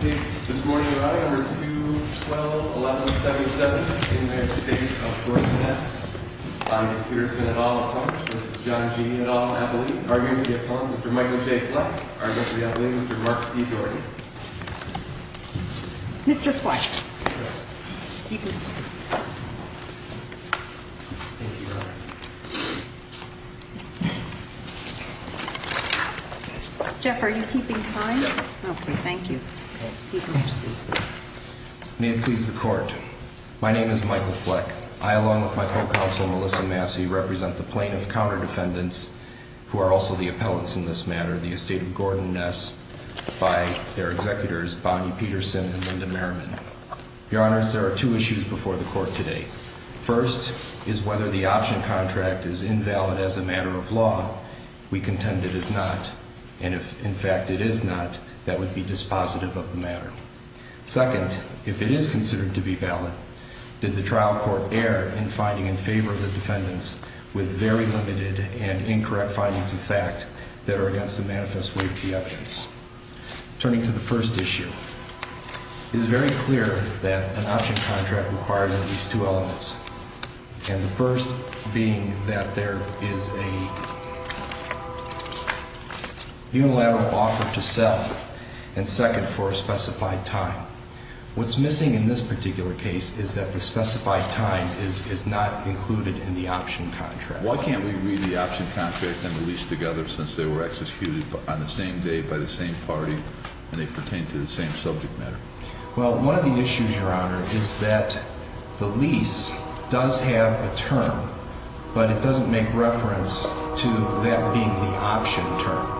This morning we are at number 2121177 in the Estate of Gordon Ness. I'm Peter Svendahl, this is John G. Edall, Arguing to be a pawn, Mr. Michael J. Fleck. Arguing to be a pawn, Mr. Mark D. Gordon. Mr. Fleck. Yes. He moves. Thank you, Your Honor. Jeff, are you keeping time? No. Okay, thank you. You can proceed. May it please the Court. My name is Michael Fleck. I, along with my co-counsel Melissa Massey, represent the plaintiff counter defendants, who are also the appellants in this matter, the Estate of Gordon Ness, by their executors, Bonnie Peterson and Linda Merriman. Your Honors, there are two issues before the Court today. First is whether the option contract is invalid as a matter of law. We contend it is not. And if, in fact, it is not, that would be dispositive of the matter. Second, if it is considered to be valid, did the trial court err in finding in favor of the defendants with very limited and incorrect findings of fact that are against the manifest weight of the evidence. Turning to the first issue, it is very clear that an option contract requires at least two elements. And the first being that there is a unilateral offer to sell, and second, for a specified time. What's missing in this particular case is that the specified time is not included in the option contract. Why can't we read the option contract and the lease together since they were executed on the same day by the same party and they pertain to the same subject matter? Well, one of the issues, Your Honor, is that the lease does have a term, but it doesn't make reference to that being the option term.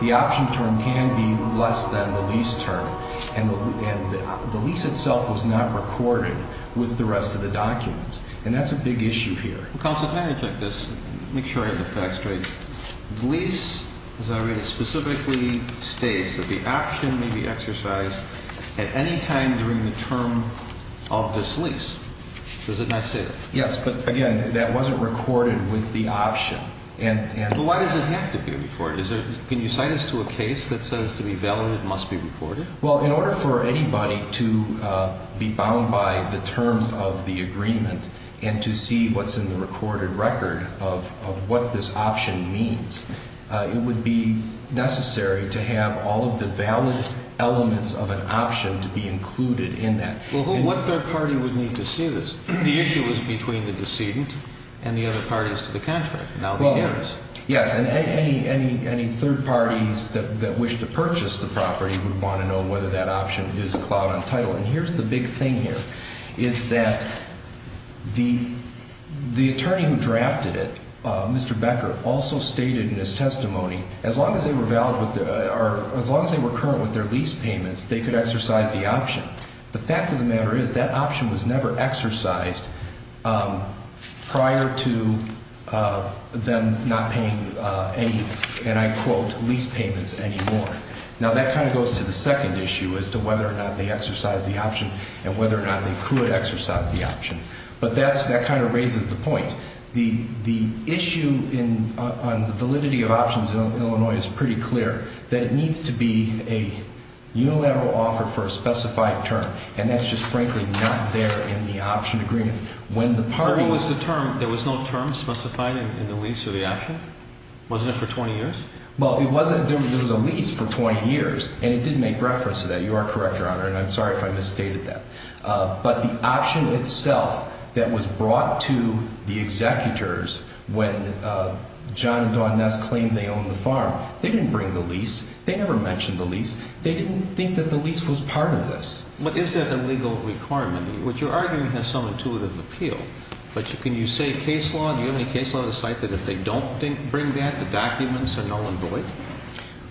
The option term can be less than the lease term, and the lease itself was not recorded with the rest of the documents, and that's a big issue here. Counsel, can I interject this? Make sure I have the facts straight. The lease, as I read it, specifically states that the option may be exercised at any time during the term of this lease. Does it not say that? Yes, but again, that wasn't recorded with the option. But why does it have to be recorded? Can you cite us to a case that says to be valid it must be recorded? Well, in order for anybody to be bound by the terms of the agreement and to see what's in the recorded record of what this option means, it would be necessary to have all of the valid elements of an option to be included in that. Well, what third party would need to see this? The issue was between the decedent and the other parties to the contract. Now they hear us. Yes, and any third parties that wish to purchase the property would want to know whether that option is cloud on title. And here's the big thing here, is that the attorney who drafted it, Mr. Becker, also stated in his testimony, as long as they were current with their lease payments, they could exercise the option. The fact of the matter is that option was never exercised prior to them not paying any, and I quote, lease payments anymore. Now that kind of goes to the second issue as to whether or not they exercise the option and whether or not they could exercise the option. But that kind of raises the point. The issue on the validity of options in Illinois is pretty clear, that it needs to be a unilateral offer for a specified term, and that's just frankly not there in the option agreement. There was no term specified in the lease of the option? Wasn't it for 20 years? Well, there was a lease for 20 years, and it did make reference to that. You are correct, Your Honor, and I'm sorry if I misstated that. But the option itself that was brought to the executors when John and Dawn Ness claimed they owned the farm, they didn't bring the lease. They never mentioned the lease. They didn't think that the lease was part of this. But is that a legal requirement? What you're arguing has some intuitive appeal, but can you say case law, do you have any case law to cite that if they don't bring that, the documents are null and void?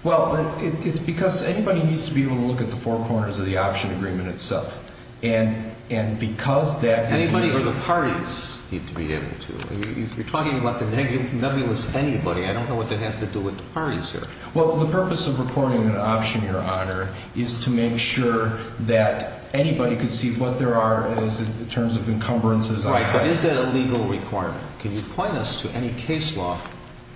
Well, it's because anybody needs to be able to look at the four corners of the option agreement itself, and because that is the reason. Anybody or the parties need to be able to. You're talking about the nebulous anybody. I don't know what that has to do with the parties here. Well, the purpose of recording an option, Your Honor, is to make sure that anybody can see what there are in terms of encumbrances. Right, but is that a legal requirement? Can you point us to any case law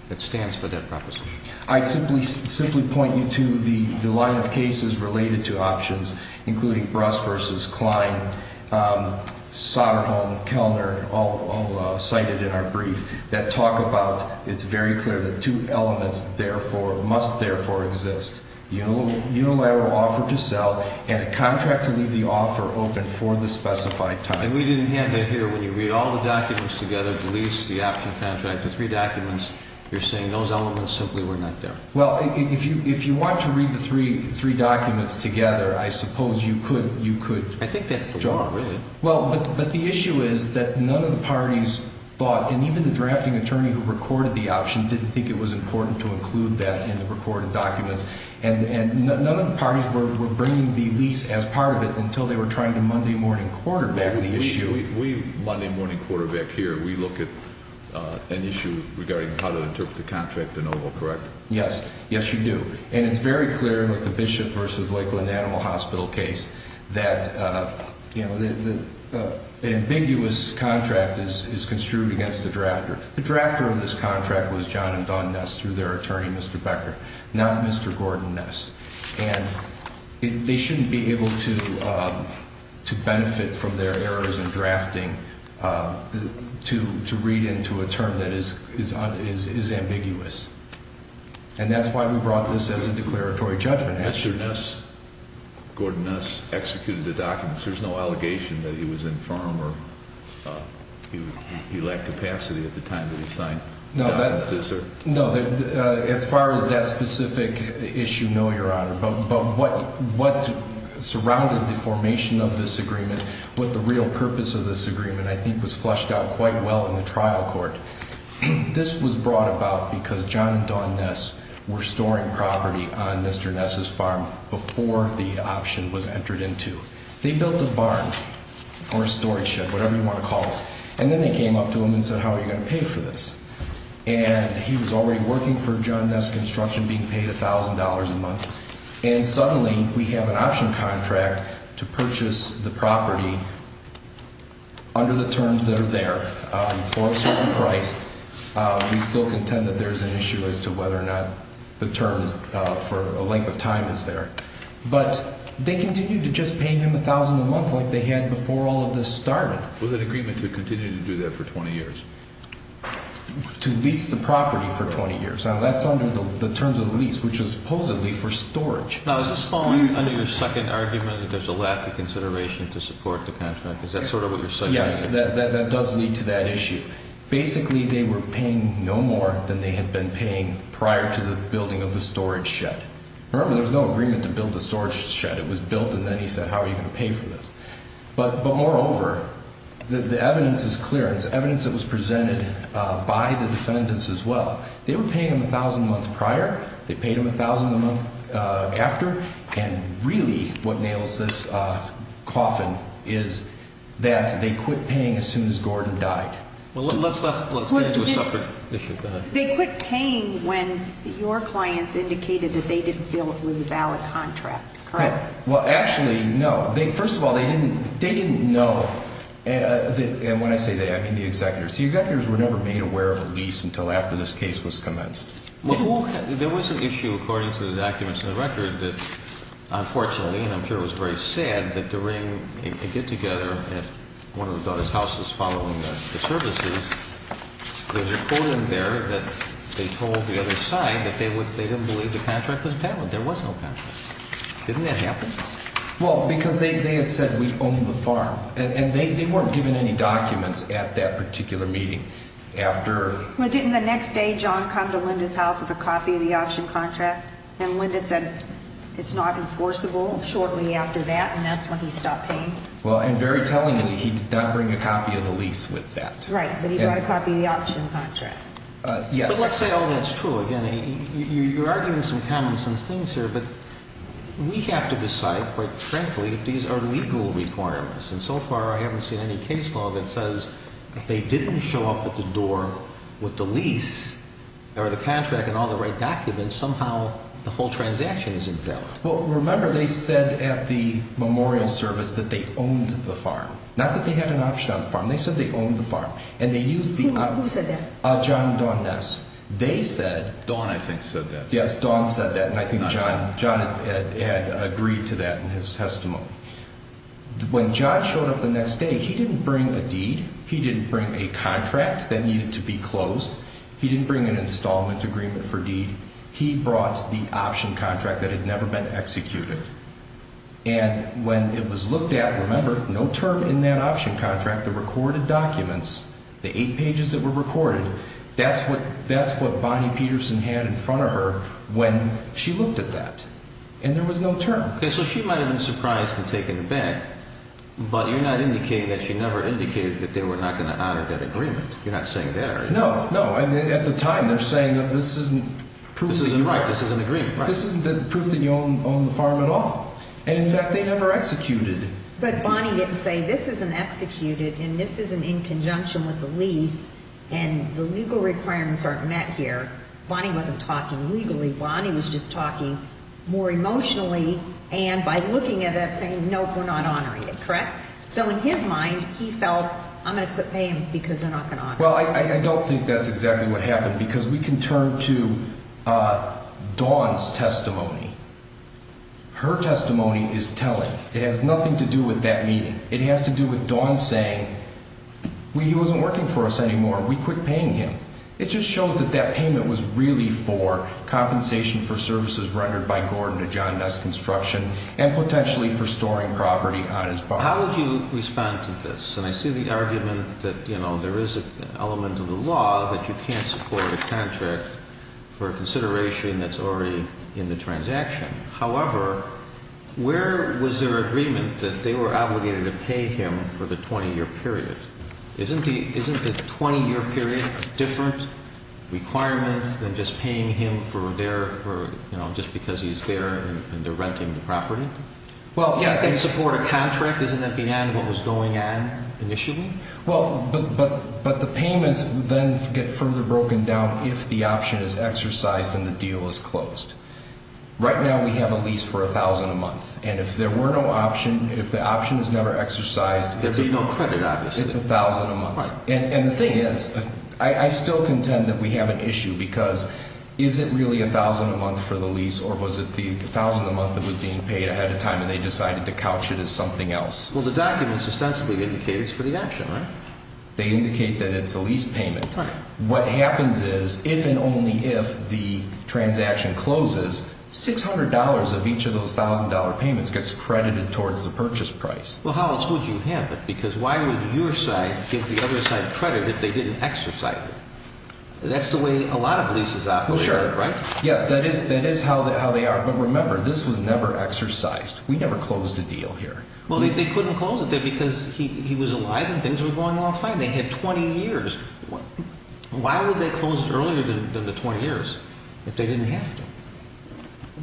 that stands for that proposition? I simply point you to the line of cases related to options, including Bruss v. Klein, Soderholm, Kellner, all cited in our brief, that talk about it's very clear that two elements must therefore exist, unilateral offer to sell and a contract to leave the offer open for the specified time. And we didn't have that here. When you read all the documents together, the lease, the option contract, the three documents, you're saying those elements simply were not there. Well, if you want to read the three documents together, I suppose you could. I think that's the law, really. Well, but the issue is that none of the parties thought, and even the drafting attorney who recorded the option didn't think it was important to include that in the recorded documents, and none of the parties were bringing the lease as part of it until they were trying to Monday morning quarterback the issue. We Monday morning quarterback here. We look at an issue regarding how to interpret the contract in Oval, correct? Yes. Yes, you do. And it's very clear with the Bishop v. Lakeland Animal Hospital case that an ambiguous contract is construed against the drafter. The drafter of this contract was John and Dawn Ness through their attorney, Mr. Becker, not Mr. Gordon Ness. And they shouldn't be able to benefit from their errors in drafting to read into a term that is ambiguous. And that's why we brought this as a declaratory judgment. Mr. Ness, Gordon Ness, executed the documents. There's no allegation that he was infirm or he lacked capacity at the time that he signed the documents, is there? No, as far as that specific issue, no, Your Honor. But what surrounded the formation of this agreement, what the real purpose of this agreement, I think, was flushed out quite well in the trial court. This was brought about because John and Dawn Ness were storing property on Mr. Ness' farm before the option was entered into. They built a barn or a storage shed, whatever you want to call it, and then they came up to him and said, how are you going to pay for this? And he was already working for John Ness Construction being paid $1,000 a month, and suddenly we have an option contract to purchase the property under the terms that are there for a certain price. We still contend that there's an issue as to whether or not the terms for a length of time is there. But they continued to just pay him $1,000 a month like they had before all of this started. With an agreement to continue to do that for 20 years? To lease the property for 20 years. Now, that's under the terms of the lease, which was supposedly for storage. Now, is this following under your second argument that there's a lack of consideration to support the contract? Is that sort of what you're suggesting? Yes, that does lead to that issue. Basically, they were paying no more than they had been paying prior to the building of the storage shed. Remember, there was no agreement to build the storage shed. It was built, and then he said, how are you going to pay for this? But moreover, the evidence is clear. It's evidence that was presented by the defendants as well. They were paying him $1,000 a month prior. They paid him $1,000 a month after. And really what nails this coffin is that they quit paying as soon as Gordon died. Let's get into a separate issue. They quit paying when your clients indicated that they didn't feel it was a valid contract, correct? Well, actually, no. First of all, they didn't know. And when I say they, I mean the executors. The executors were never made aware of a lease until after this case was commenced. There was an issue, according to the documents in the record, that unfortunately, and I'm sure it was very sad, that during a get-together at one of the bonus houses following the services, there was a quote in there that they told the other side that they didn't believe the contract was valid. There was no contract. Didn't that happen? Well, because they had said, we own the farm. And they weren't given any documents at that particular meeting. Well, didn't the next day John come to Linda's house with a copy of the auction contract, and Linda said it's not enforceable shortly after that, and that's when he stopped paying? Well, and very tellingly, he did not bring a copy of the lease with that. Right, but he brought a copy of the auction contract. Yes. But let's say all that's true. Again, you are giving some common sense things here, but we have to decide, quite frankly, if these are legal requirements. And so far, I haven't seen any case law that says if they didn't show up at the door with the lease or the contract and all the right documents, somehow the whole transaction is invalid. Well, remember, they said at the memorial service that they owned the farm. Not that they had an option on the farm. They said they owned the farm. And they used the... Who said that? John Dawn Ness. They said... Dawn, I think, said that. Yes, Dawn said that, and I think John had agreed to that in his testimony. When John showed up the next day, he didn't bring a deed. He didn't bring a contract that needed to be closed. He didn't bring an installment agreement for deed. He brought the option contract that had never been executed. And when it was looked at, remember, no term in that option contract, the recorded documents, the eight pages that were recorded, that's what Bonnie Peterson had in front of her when she looked at that. And there was no term. Okay, so she might have been surprised and taken aback, but you're not indicating that she never indicated that they were not going to honor that agreement. You're not saying that, are you? No, no. At the time, they're saying that this isn't proof... Right, this isn't agreement, right. This isn't proof that you own the farm at all. And, in fact, they never executed. But Bonnie didn't say, this isn't executed, and this isn't in conjunction with the lease, and the legal requirements aren't met here. Bonnie wasn't talking legally. Bonnie was just talking more emotionally, and by looking at it, saying, nope, we're not honoring it, correct? So, in his mind, he felt, I'm going to quit paying because they're not going to honor it. Well, I don't think that's exactly what happened because we can turn to Dawn's testimony. Her testimony is telling. It has nothing to do with that meeting. It has to do with Dawn saying, well, he wasn't working for us anymore. We quit paying him. It just shows that that payment was really for compensation for services rendered by Gordon to John Ness Construction, and potentially for storing property on his property. How would you respond to this? And I see the argument that, you know, there is an element of the law that you can't support a contract for a consideration that's already in the transaction. However, where was their agreement that they were obligated to pay him for the 20-year period? Isn't the 20-year period a different requirement than just paying him for their, you know, just because he's there and they're renting the property? Well, yeah. You can't support a contract. Isn't that beyond what was going on initially? Well, but the payments then get further broken down if the option is exercised and the deal is closed. Right now, we have a lease for $1,000 a month, and if there were no option, if the option is never exercised, there'd be no credit, obviously. It's $1,000 a month. Right. And the thing is, I still contend that we have an issue because is it really $1,000 a month for the lease, or was it the $1,000 a month that was being paid ahead of time and they decided to couch it as something else? Well, the documents ostensibly indicate it's for the option, right? They indicate that it's a lease payment. Right. What happens is, if and only if the transaction closes, $600 of each of those $1,000 payments gets credited towards the purchase price. Well, how else would you have it? Because why would your side give the other side credit if they didn't exercise it? That's the way a lot of leases operate, right? Well, sure. Yes, that is how they are. But remember, this was never exercised. We never closed a deal here. Well, they couldn't close it then because he was alive and things were going well fine. They had 20 years. Why would they close it earlier than the 20 years if they didn't have to?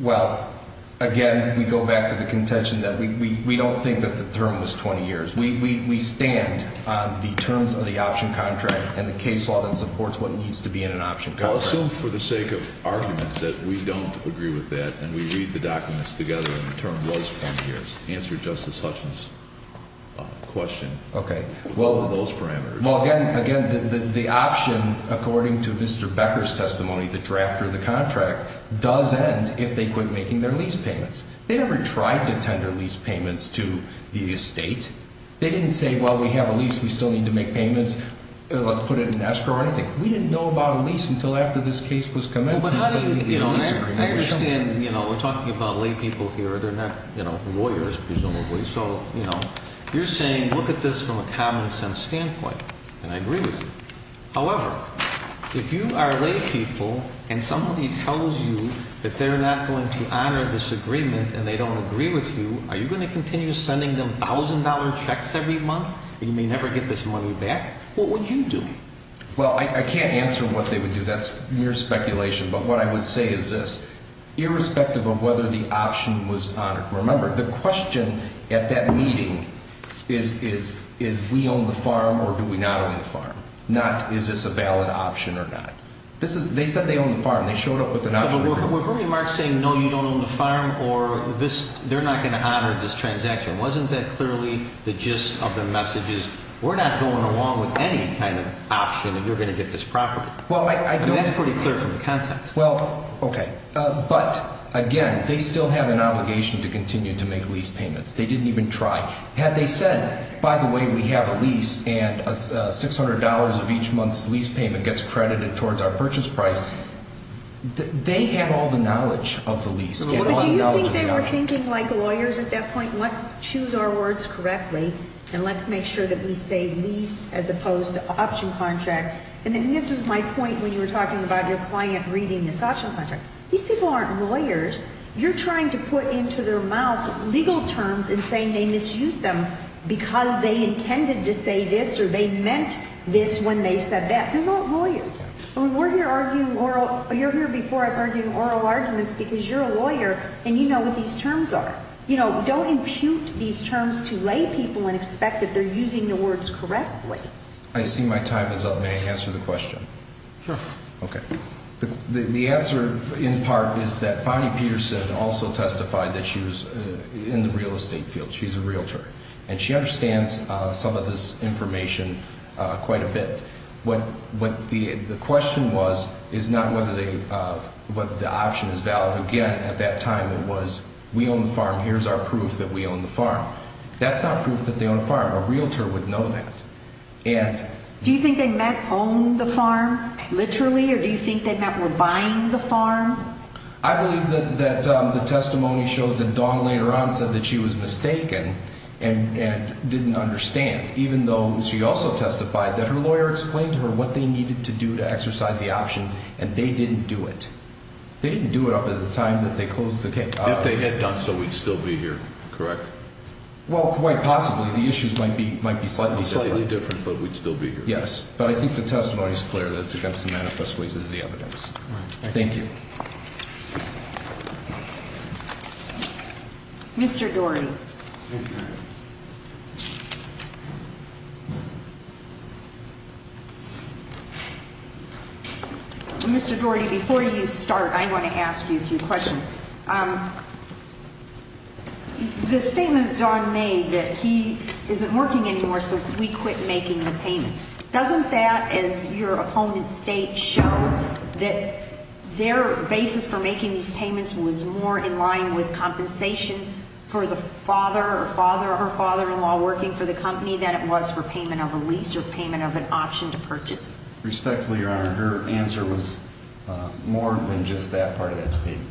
Well, again, we go back to the contention that we don't think that the term was 20 years. We stand on the terms of the option contract and the case law that supports what needs to be in an option contract. Well, assume for the sake of argument that we don't agree with that and we read the documents together and the term was 20 years. Answer Justice Sessions' question. Okay. What are those parameters? Well, again, the option, according to Mr. Becker's testimony, the drafter of the contract, does end if they quit making their lease payments. They never tried to tender lease payments to the estate. They didn't say, well, we have a lease. We still need to make payments. Let's put it in escrow or anything. We didn't know about a lease until after this case was commenced. I understand. We're talking about laypeople here. They're not lawyers, presumably. So you're saying look at this from a common-sense standpoint, and I agree with you. However, if you are laypeople and somebody tells you that they're not going to honor this agreement and they don't agree with you, are you going to continue sending them $1,000 checks every month and you may never get this money back? What would you do? Well, I can't answer what they would do. That's mere speculation. But what I would say is this. Irrespective of whether the option was honored, remember the question at that meeting is we own the farm or do we not own the farm, not is this a valid option or not. They said they own the farm. They showed up with an option agreement. Were Bernie Marx saying no, you don't own the farm or they're not going to honor this transaction? Wasn't that clearly the gist of the message is we're not going along with any kind of option and you're going to get this property? That's pretty clear from the context. Well, okay. But, again, they still have an obligation to continue to make lease payments. They didn't even try. Had they said, by the way, we have a lease and $600 of each month's lease payment gets credited towards our purchase price, they had all the knowledge of the lease. Do you think they were thinking like lawyers at that point, let's choose our words correctly and let's make sure that we say lease as opposed to option contract? And this is my point when you were talking about your client reading this option contract. These people aren't lawyers. You're trying to put into their mouths legal terms and saying they misused them because they intended to say this or they meant this when they said that. They're not lawyers. You're here before us arguing oral arguments because you're a lawyer and you know what these terms are. Don't impute these terms to lay people and expect that they're using the words correctly. I see my time is up. May I answer the question? Sure. Okay. The answer, in part, is that Bonnie Peterson also testified that she was in the real estate field. She's a realtor. And she understands some of this information quite a bit. What the question was is not whether the option is valid. Again, at that time it was we own the farm, here's our proof that we own the farm. That's not proof that they own a farm. A realtor would know that. Do you think they meant own the farm literally or do you think they meant we're buying the farm? I believe that the testimony shows that Dawn later on said that she was mistaken and didn't understand, even though she also testified that her lawyer explained to her what they needed to do to exercise the option and they didn't do it. They didn't do it up at the time that they closed the case. If they had done so, we'd still be here, correct? Well, quite possibly. The issues might be slightly different. Slightly different, but we'd still be here. Yes. But I think the testimony is clear that it's against the manifest ways of the evidence. Thank you. Mr. Doherty. Mr. Doherty, before you start, I want to ask you a few questions. The statement that Dawn made that he isn't working anymore so we quit making the payments, doesn't that, as your opponent states, show that their basis for making these payments was more in line with compensation for the father or father-in-law working for the company than it was for payment of a lease or payment of an option to purchase? Respectfully, Your Honor, her answer was more than just that part of that statement.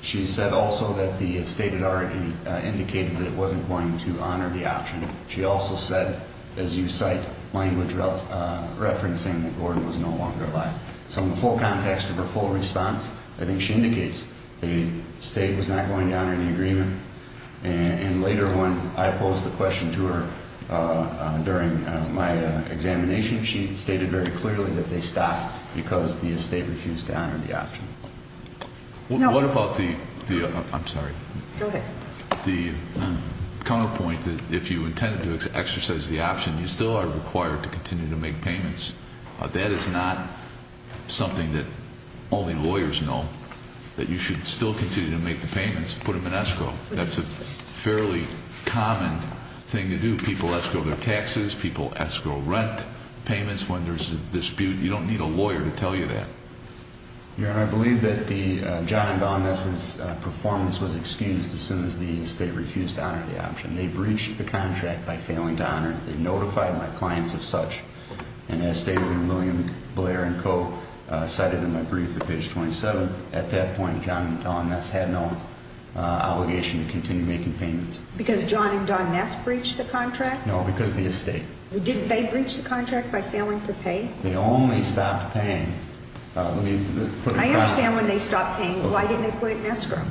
She said also that the state had already indicated that it wasn't going to honor the option. She also said, as you cite, language referencing that Gordon was no longer alive. So in the full context of her full response, I think she indicates the state was not going to honor the agreement. And later when I posed the question to her during my examination, she stated very clearly that they stopped because the state refused to honor the option. What about the- I'm sorry. Go ahead. The counterpoint that if you intended to exercise the option, you still are required to continue to make payments. That is not something that only lawyers know, that you should still continue to make the payments, put them in escrow. That's a fairly common thing to do. People escrow their taxes. People escrow rent payments when there's a dispute. You don't need a lawyer to tell you that. Your Honor, I believe that John and Dawn Ness's performance was excused as soon as the state refused to honor the option. They breached the contract by failing to honor it. They notified my clients of such. And as State Attorney William Blair and co. cited in my brief at page 27, at that point John and Dawn Ness had no obligation to continue making payments. Because John and Dawn Ness breached the contract? No, because of the estate. Did they breach the contract by failing to pay? They only stopped paying. I understand when they stopped paying. Why didn't they put it in escrow?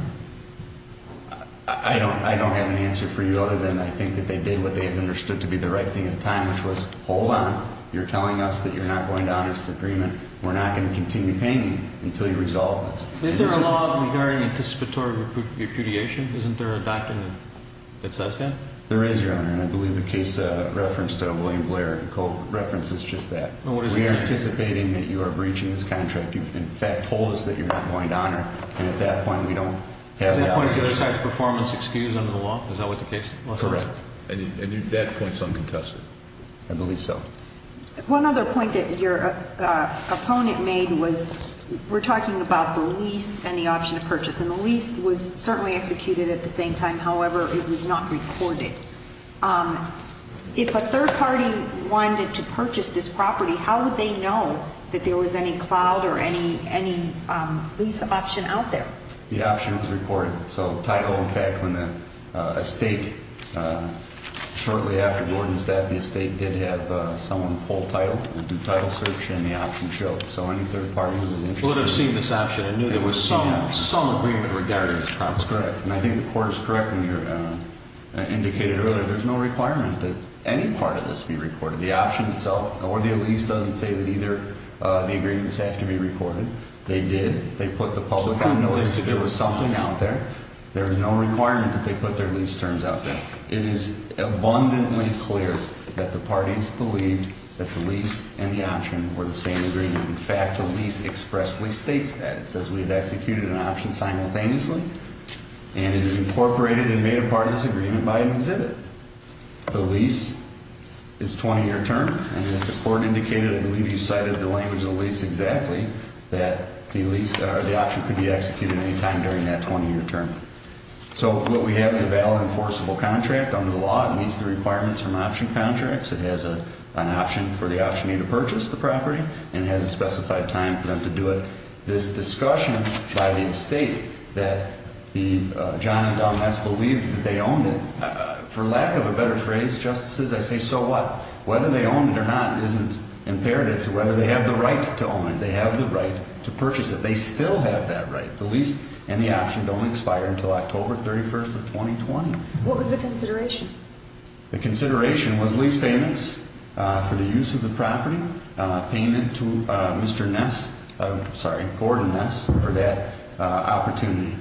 I don't have an answer for you other than I think that they did what they understood to be the right thing at the time, which was, hold on, you're telling us that you're not going to honor the agreement. We're not going to continue paying you until you resolve this. Is there a law regarding anticipatory repudiation? Isn't there a document that says that? There is, Your Honor, and I believe the case reference to William Blair and co. references just that. We are anticipating that you are breaching this contract. You, in fact, told us that you're not going to honor, and at that point we don't have the obligation. Is that a performance excuse under the law? Is that what the case is? Correct. And at that point it's uncontested? I believe so. One other point that your opponent made was we're talking about the lease and the option of purchase, and the lease was certainly executed at the same time, however, it was not recorded. If a third party wanted to purchase this property, how would they know that there was any cloud or any lease option out there? The option was recorded. So title, in fact, when the estate, shortly after Gordon's death, the estate did have someone pull title, do title search, and the option showed. So any third party who was interested in this. We would have seen this option. I knew there was some agreement regarding it. That's correct. And I think the court is correct when you indicated earlier there's no requirement that any part of this be recorded. The option itself, or the lease, doesn't say that either of the agreements have to be recorded. They did. They put the public on notice that there was something out there. There was no requirement that they put their lease terms out there. It is abundantly clear that the parties believed that the lease and the option were the same agreement. In fact, the lease expressly states that. It says we have executed an option simultaneously. And it is incorporated and made a part of this agreement by an exhibit. The lease is a 20-year term. And as the court indicated, I believe you cited the language of the lease exactly, that the option could be executed at any time during that 20-year term. So what we have is a valid enforceable contract under the law. It meets the requirements from option contracts. It has an option for the optionee to purchase the property. And it has a specified time for them to do it. This discussion by the estate that the Johnny Gomez believed that they owned it, for lack of a better phrase, Justices, I say so what? Whether they own it or not isn't imperative to whether they have the right to own it. They have the right to purchase it. They still have that right, the lease and the option, to only expire until October 31st of 2020. What was the consideration? The consideration was lease payments for the use of the property, payment to Mr. Ness, sorry, Gordon Ness for that opportunity.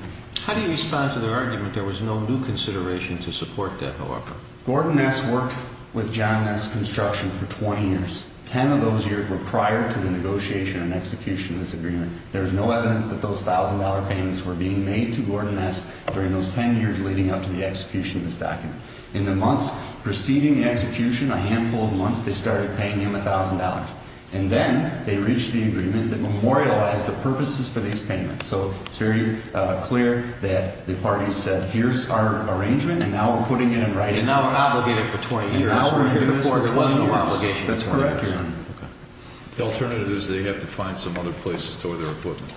How do you respond to their argument there was no new consideration to support that however? Gordon Ness worked with John Ness Construction for 20 years. Ten of those years were prior to the negotiation and execution of this agreement. There is no evidence that those $1,000 payments were being made to Gordon Ness during those 10 years leading up to the execution of this document. In the months preceding execution, a handful of months, they started paying him $1,000. And then they reached the agreement that memorialized the purposes for these payments. So it's very clear that the parties said here's our arrangement and now we're putting it in writing. And now we're obligated for 20 years. And now we're here before 12 more obligations. That's correct, Your Honor. The alternative is they have to find some other place to store their equipment.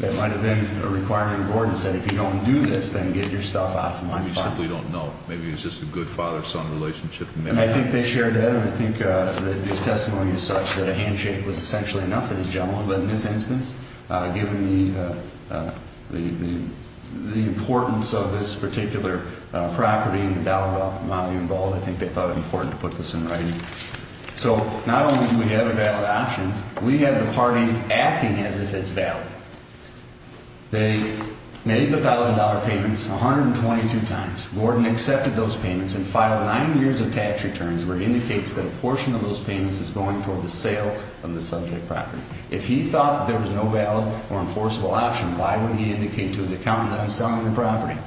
That might have been a requirement Gordon said if you don't do this then get your stuff out of my fund. We simply don't know. Maybe it was just a good father-son relationship. And I think they shared that. And I think the testimony is such that a handshake was essentially enough for this gentleman. But in this instance, given the importance of this particular property and the amount of money involved, I think they thought it important to put this in writing. So not only do we have a valid option, we have the parties acting as if it's valid. They made the $1,000 payments 122 times. Gordon accepted those payments and filed nine years of tax returns where he indicates that a portion of those payments is going toward the sale of the subject property. If he thought there was no valid or enforceable option, why would he indicate to his accountant that I'm selling the property?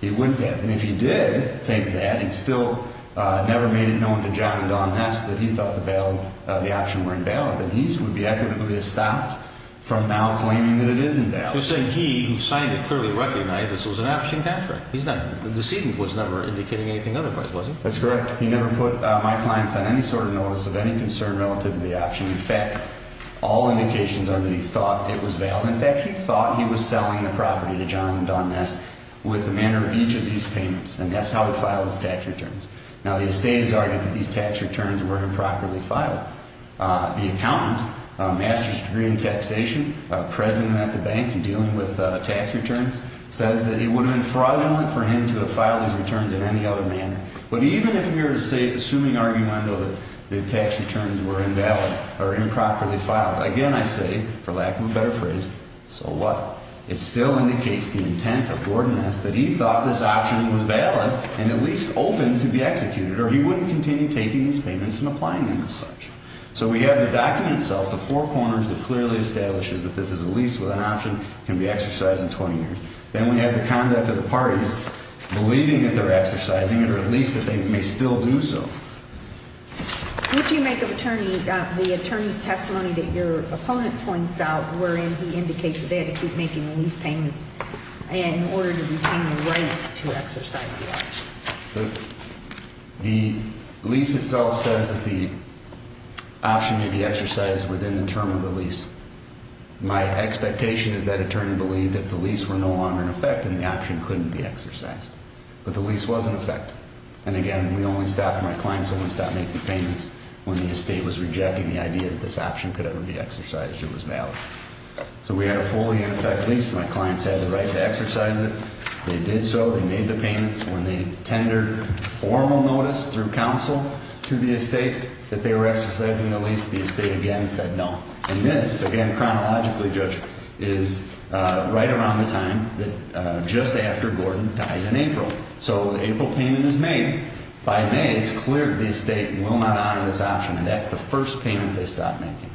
He wouldn't have. And if he did take that, he still never made it known to John and Don Ness that he thought the option were invalid, that he would be equitably stopped from now claiming that it is invalid. So he, who signed it, clearly recognized this was an option contract. The decedent was never indicating anything otherwise, was he? That's correct. He never put my clients on any sort of notice of any concern relative to the option. In fact, all indications are that he thought it was valid. In fact, he thought he was selling the property to John and Don Ness with the manner of each of these payments. And that's how he filed his tax returns. Now, the estate has argued that these tax returns were improperly filed. The accountant, a master's degree in taxation, a president at the bank in dealing with tax returns, says that it would have been fraudulent for him to have filed his returns in any other manner. But even if you were to say, assuming argument that the tax returns were invalid or improperly filed, again I say, for lack of a better phrase, so what? It still indicates the intent of Gordon Ness that he thought this option was valid and at least open to be executed, or he wouldn't continue taking these payments and applying them as such. So we have the document itself, the four corners that clearly establishes that this is a lease with an option, can be exercised in 20 years. Then we have the conduct of the parties, believing that they're exercising it, or at least that they may still do so. Would you make of the attorney's testimony that your opponent points out, or he indicates that they had to keep making the lease payments in order to retain the right to exercise the option? The lease itself says that the option may be exercised within the term of the lease. My expectation is that attorney believed if the lease were no longer in effect, then the option couldn't be exercised. But the lease was in effect. And again, we only stopped, my clients only stopped making payments when the estate was rejecting the idea that this option could ever be exercised or was valid. So we had a fully in effect lease. My clients had the right to exercise it. They did so. They made the payments. When they tendered formal notice through counsel to the estate that they were exercising the lease, the estate again said no. And this, again chronologically, Judge, is right around the time that just after Gordon dies in April. So the April payment is made. By May, it's clear that the estate will not honor this option, and that's the first payment they stopped making.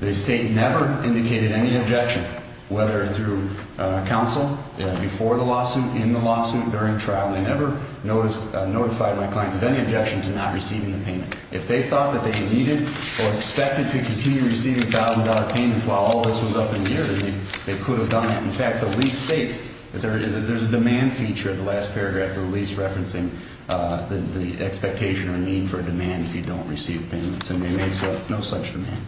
The estate never indicated any objection, whether through counsel, before the lawsuit, in the lawsuit, during trial. They never notified my clients of any objection to not receiving the payment. If they thought that they needed or expected to continue receiving $1,000 payments while all this was up in the air, they could have done that. In fact, the lease states that there is a demand feature at the last paragraph of the lease referencing the expectation or need for a demand if you don't receive payments. And it makes no such demand.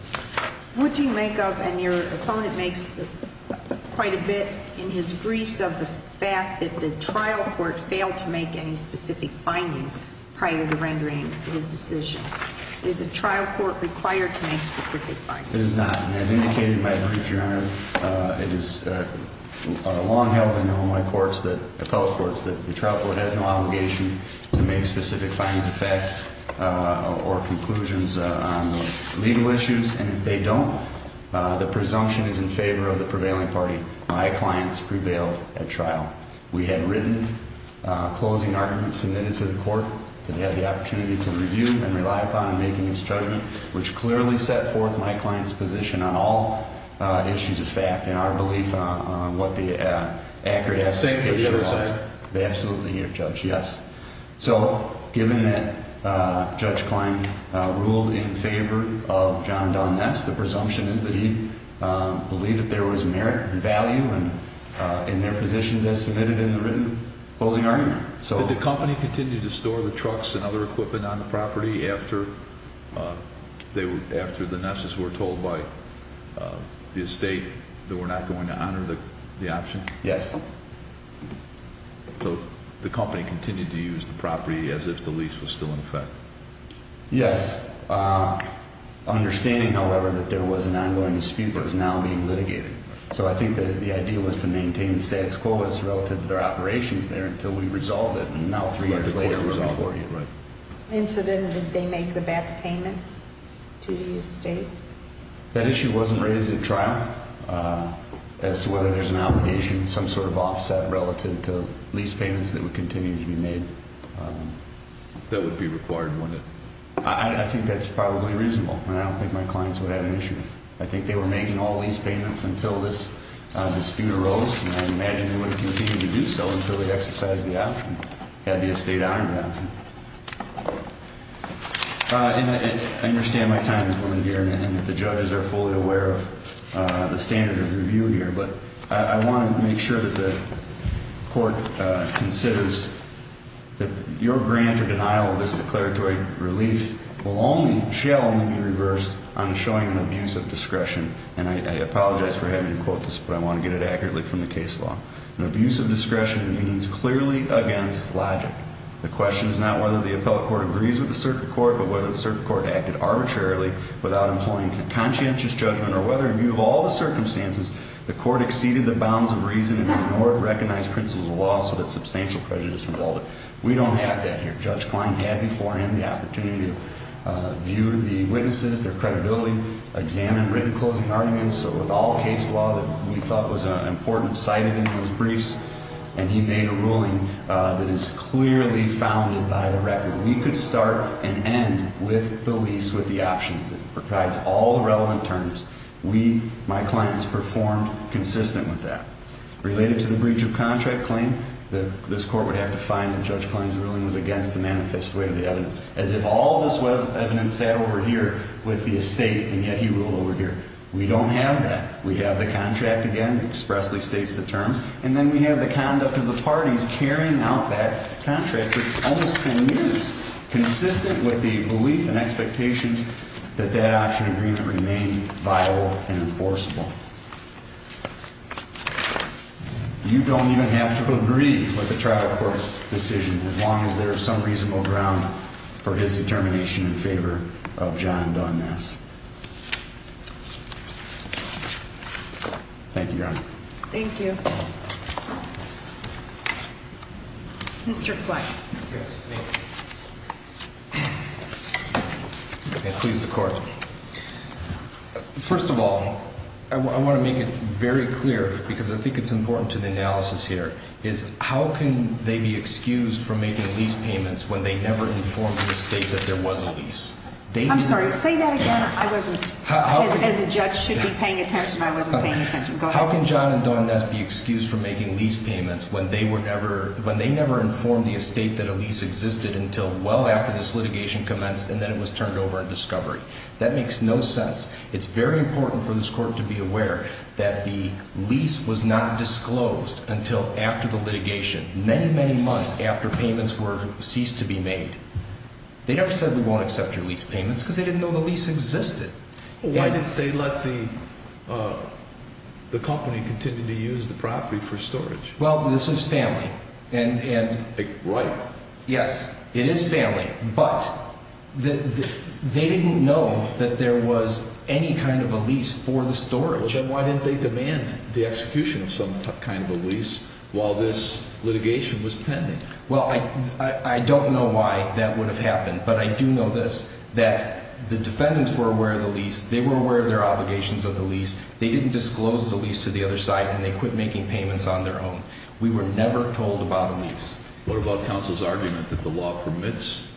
What do you make of, and your opponent makes quite a bit in his briefs of the fact that the trial court failed to make any specific findings prior to rendering his decision? Is a trial court required to make specific findings? It is not. As indicated in my brief, Your Honor, it is long held in Illinois courts, the appellate courts, that the trial court has no obligation to make specific findings, effects, or conclusions on legal issues. And if they don't, the presumption is in favor of the prevailing party. My clients prevailed at trial. We had written closing arguments submitted to the court. They had the opportunity to review and rely upon in making this judgment, which clearly set forth my client's position on all issues of fact and our belief on what the accurate application was. You're saying he was sure, sir? Absolutely, Your Judge, yes. So given that Judge Klein ruled in favor of John and Don Ness, the presumption is that he believed that there was merit and value in their positions as submitted in the written closing argument. Did the company continue to store the trucks and other equipment on the property after the Ness's were told by the estate that we're not going to honor the option? Yes. So the company continued to use the property as if the lease was still in effect? Yes. Understanding, however, that there was an ongoing dispute that was now being litigated. So I think that the idea was to maintain the status quo as relative to their operations there until we resolved it. And now three years later, we're in 40. Right. And so then did they make the back payments to the estate? That issue wasn't raised at trial as to whether there's an obligation, some sort of offset relative to lease payments that would continue to be made. That would be required, wouldn't it? I think that's probably reasonable. And I don't think my clients would have an issue. I think they were making all lease payments until this dispute arose. And I imagine they would have continued to do so until they exercised the option, had the estate honored the option. I understand my time is running here and that the judges are fully aware of the standard of review here. But I want to make sure that the court considers that your grant or denial of this declaratory relief will only, shall only be reversed on showing an abuse of discretion. And I apologize for having to quote this, but I want to get it accurately from the case law. An abuse of discretion means clearly against logic. The question is not whether the appellate court agrees with the circuit court, but whether the circuit court acted arbitrarily without employing conscientious judgment, or whether, in view of all the circumstances, the court exceeded the bounds of reason and ignored recognized principles of law so that substantial prejudice resulted. We don't have that here. Judge Klein had before him the opportunity to view the witnesses, their credibility, examine written closing arguments. So with all case law that we thought was important cited in those briefs, and he made a ruling that is clearly founded by the record. We could start and end with the lease with the option that provides all the relevant terms. We, my clients, performed consistent with that. Related to the breach of contract claim, this court would have to find that Judge Klein's ruling was against the manifest way of the evidence. As if all of this evidence sat over here with the estate and yet he ruled over here. We don't have that. We have the contract again, expressly states the terms, and then we have the conduct of the parties carrying out that contract for almost 10 years. Consistent with the belief and expectations that that option agreement remained viable and enforceable. You don't even have to agree with the trial court's decision as long as there is some reasonable ground for his determination in favor of John Dunness. Thank you, John. Thank you. Mr. Please, of course. First of all, I want to make it very clear because I think it's important to the analysis here is how can they be excused from making these payments when they never informed the state that there was a lease? I'm sorry. Say that again. I wasn't as a judge should be paying attention. I wasn't paying attention. How can John and Dawn Ness be excused from making lease payments when they were never when they never informed the estate that a lease existed until well after this litigation commenced and then it was turned over in discovery? That makes no sense. It's very important for this court to be aware that the lease was not disclosed until after the litigation, many, many months after payments were ceased to be made. They never said we won't accept your lease payments because they didn't know the lease existed. Why did they let the company continue to use the property for storage? Well, this is family. Right. Yes, it is family. But they didn't know that there was any kind of a lease for the storage. Then why didn't they demand the execution of some kind of a lease while this litigation was pending? Well, I don't know why that would have happened, but I do know this, that the defendants were aware of the lease. They were aware of their obligations of the lease. They didn't disclose the lease to the other side, and they quit making payments on their own. We were never told about a lease. What about counsel's argument that the law permits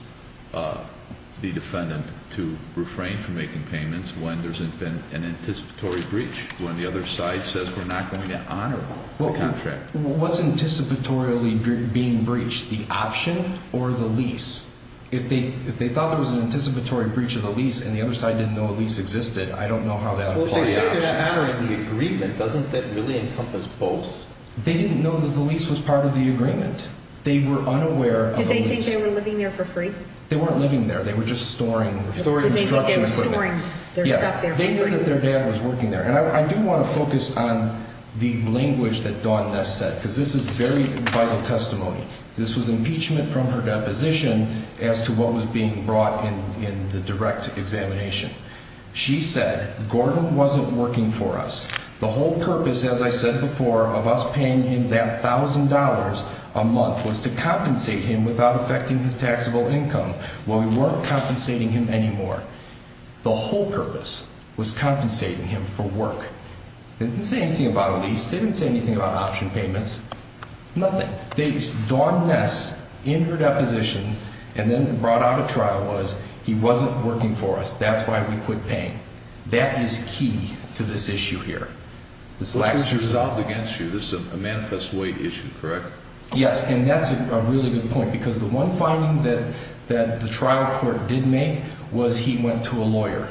the defendant to refrain from making payments when there's been an anticipatory breach, when the other side says we're not going to honor the contract? What's anticipatorily being breached, the option or the lease? If they thought there was an anticipatory breach of the lease and the other side didn't know a lease existed, I don't know how that would be the option. Well, say they're not honoring the agreement. Doesn't that really encompass both? They didn't know that the lease was part of the agreement. They were unaware of the lease. Did they think they were living there for free? They weren't living there. They were just storing construction equipment. They knew that their dad was working there. And I do want to focus on the language that Dawn Ness said, because this is very vital testimony. This was impeachment from her deposition as to what was being brought in the direct examination. She said, Gordon wasn't working for us. The whole purpose, as I said before, of us paying him that $1,000 a month was to compensate him without affecting his taxable income. Well, we weren't compensating him anymore. The whole purpose was compensating him for work. It didn't say anything about a lease. It didn't say anything about option payments. Nothing. Dawn Ness, in her deposition, and then brought out at trial was, he wasn't working for us. That's why we quit paying. That is key to this issue here. Which was resolved against you. This is a manifest way issue, correct? Yes, and that's a really good point. Because the one finding that the trial court did make was he went to a lawyer.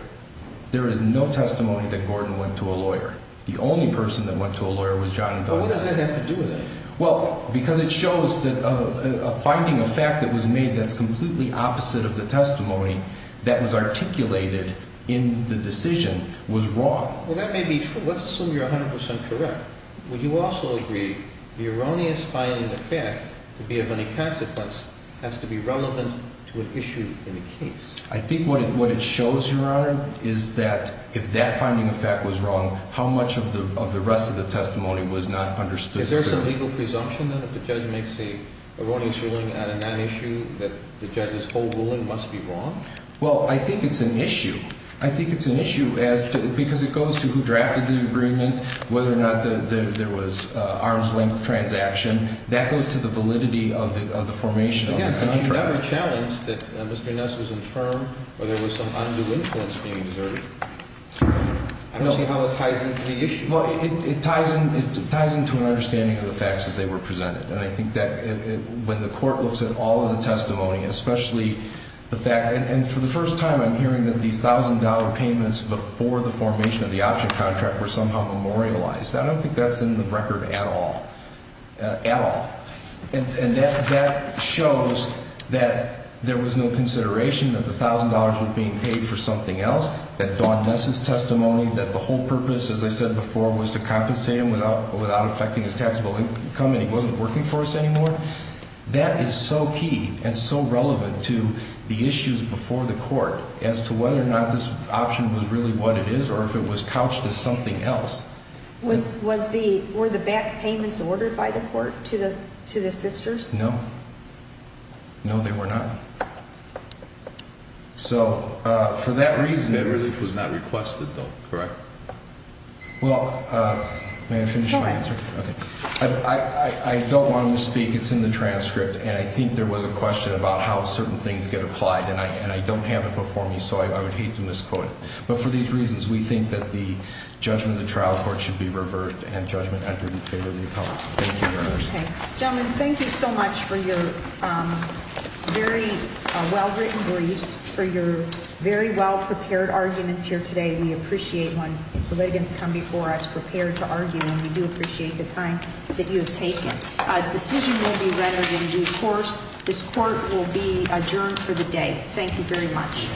There is no testimony that Gordon went to a lawyer. The only person that went to a lawyer was John and Dawn Ness. But what does that have to do with anything? Well, because it shows that a finding, a fact that was made that's completely opposite of the testimony that was articulated in the decision was wrong. Well, that may be true. Let's assume you're 100% correct. Would you also agree the erroneous finding of fact to be of any consequence has to be relevant to an issue in the case? I think what it shows, Your Honor, is that if that finding of fact was wrong, how much of the rest of the testimony was not understood? Is there some legal presumption that if the judge makes an erroneous ruling on a non-issue, that the judge's whole ruling must be wrong? Well, I think it's an issue. I think it's an issue because it goes to who drafted the agreement, whether or not there was an arm's-length transaction. That goes to the validity of the formation of the contract. Again, since you never challenged that Mr. Ness was infirm or there was some undue influence being exerted, I don't see how it ties into the issue. Well, it ties into an understanding of the facts as they were presented. And I think that when the court looks at all of the testimony, especially the fact, and for the first time I'm hearing that these $1,000 payments before the formation of the option contract were somehow memorialized. I don't think that's in the record at all, at all. And that shows that there was no consideration that the $1,000 was being paid for something else, that Don Ness's testimony, that the whole purpose, as I said before, was to compensate him without affecting his taxable income, and he wasn't working for us anymore. That is so key and so relevant to the issues before the court as to whether or not this option was really what it is or if it was couched as something else. Were the back payments ordered by the court to the sisters? No. No, they were not. So for that reason, that relief was not requested though, correct? Well, may I finish my answer? I don't want to misspeak. It's in the transcript, and I think there was a question about how certain things get applied, and I don't have it before me, so I would hate to misquote it. But for these reasons, we think that the judgment of the trial court should be reversed and judgment entered in favor of the appellate. Thank you very much. Okay. Gentlemen, thank you so much for your very well-written briefs, for your very well-prepared arguments here today. We appreciate when the litigants come before us prepared to argue, and we do appreciate the time that you have taken. A decision will be rendered in due course. This court will be adjourned for the day. Thank you very much.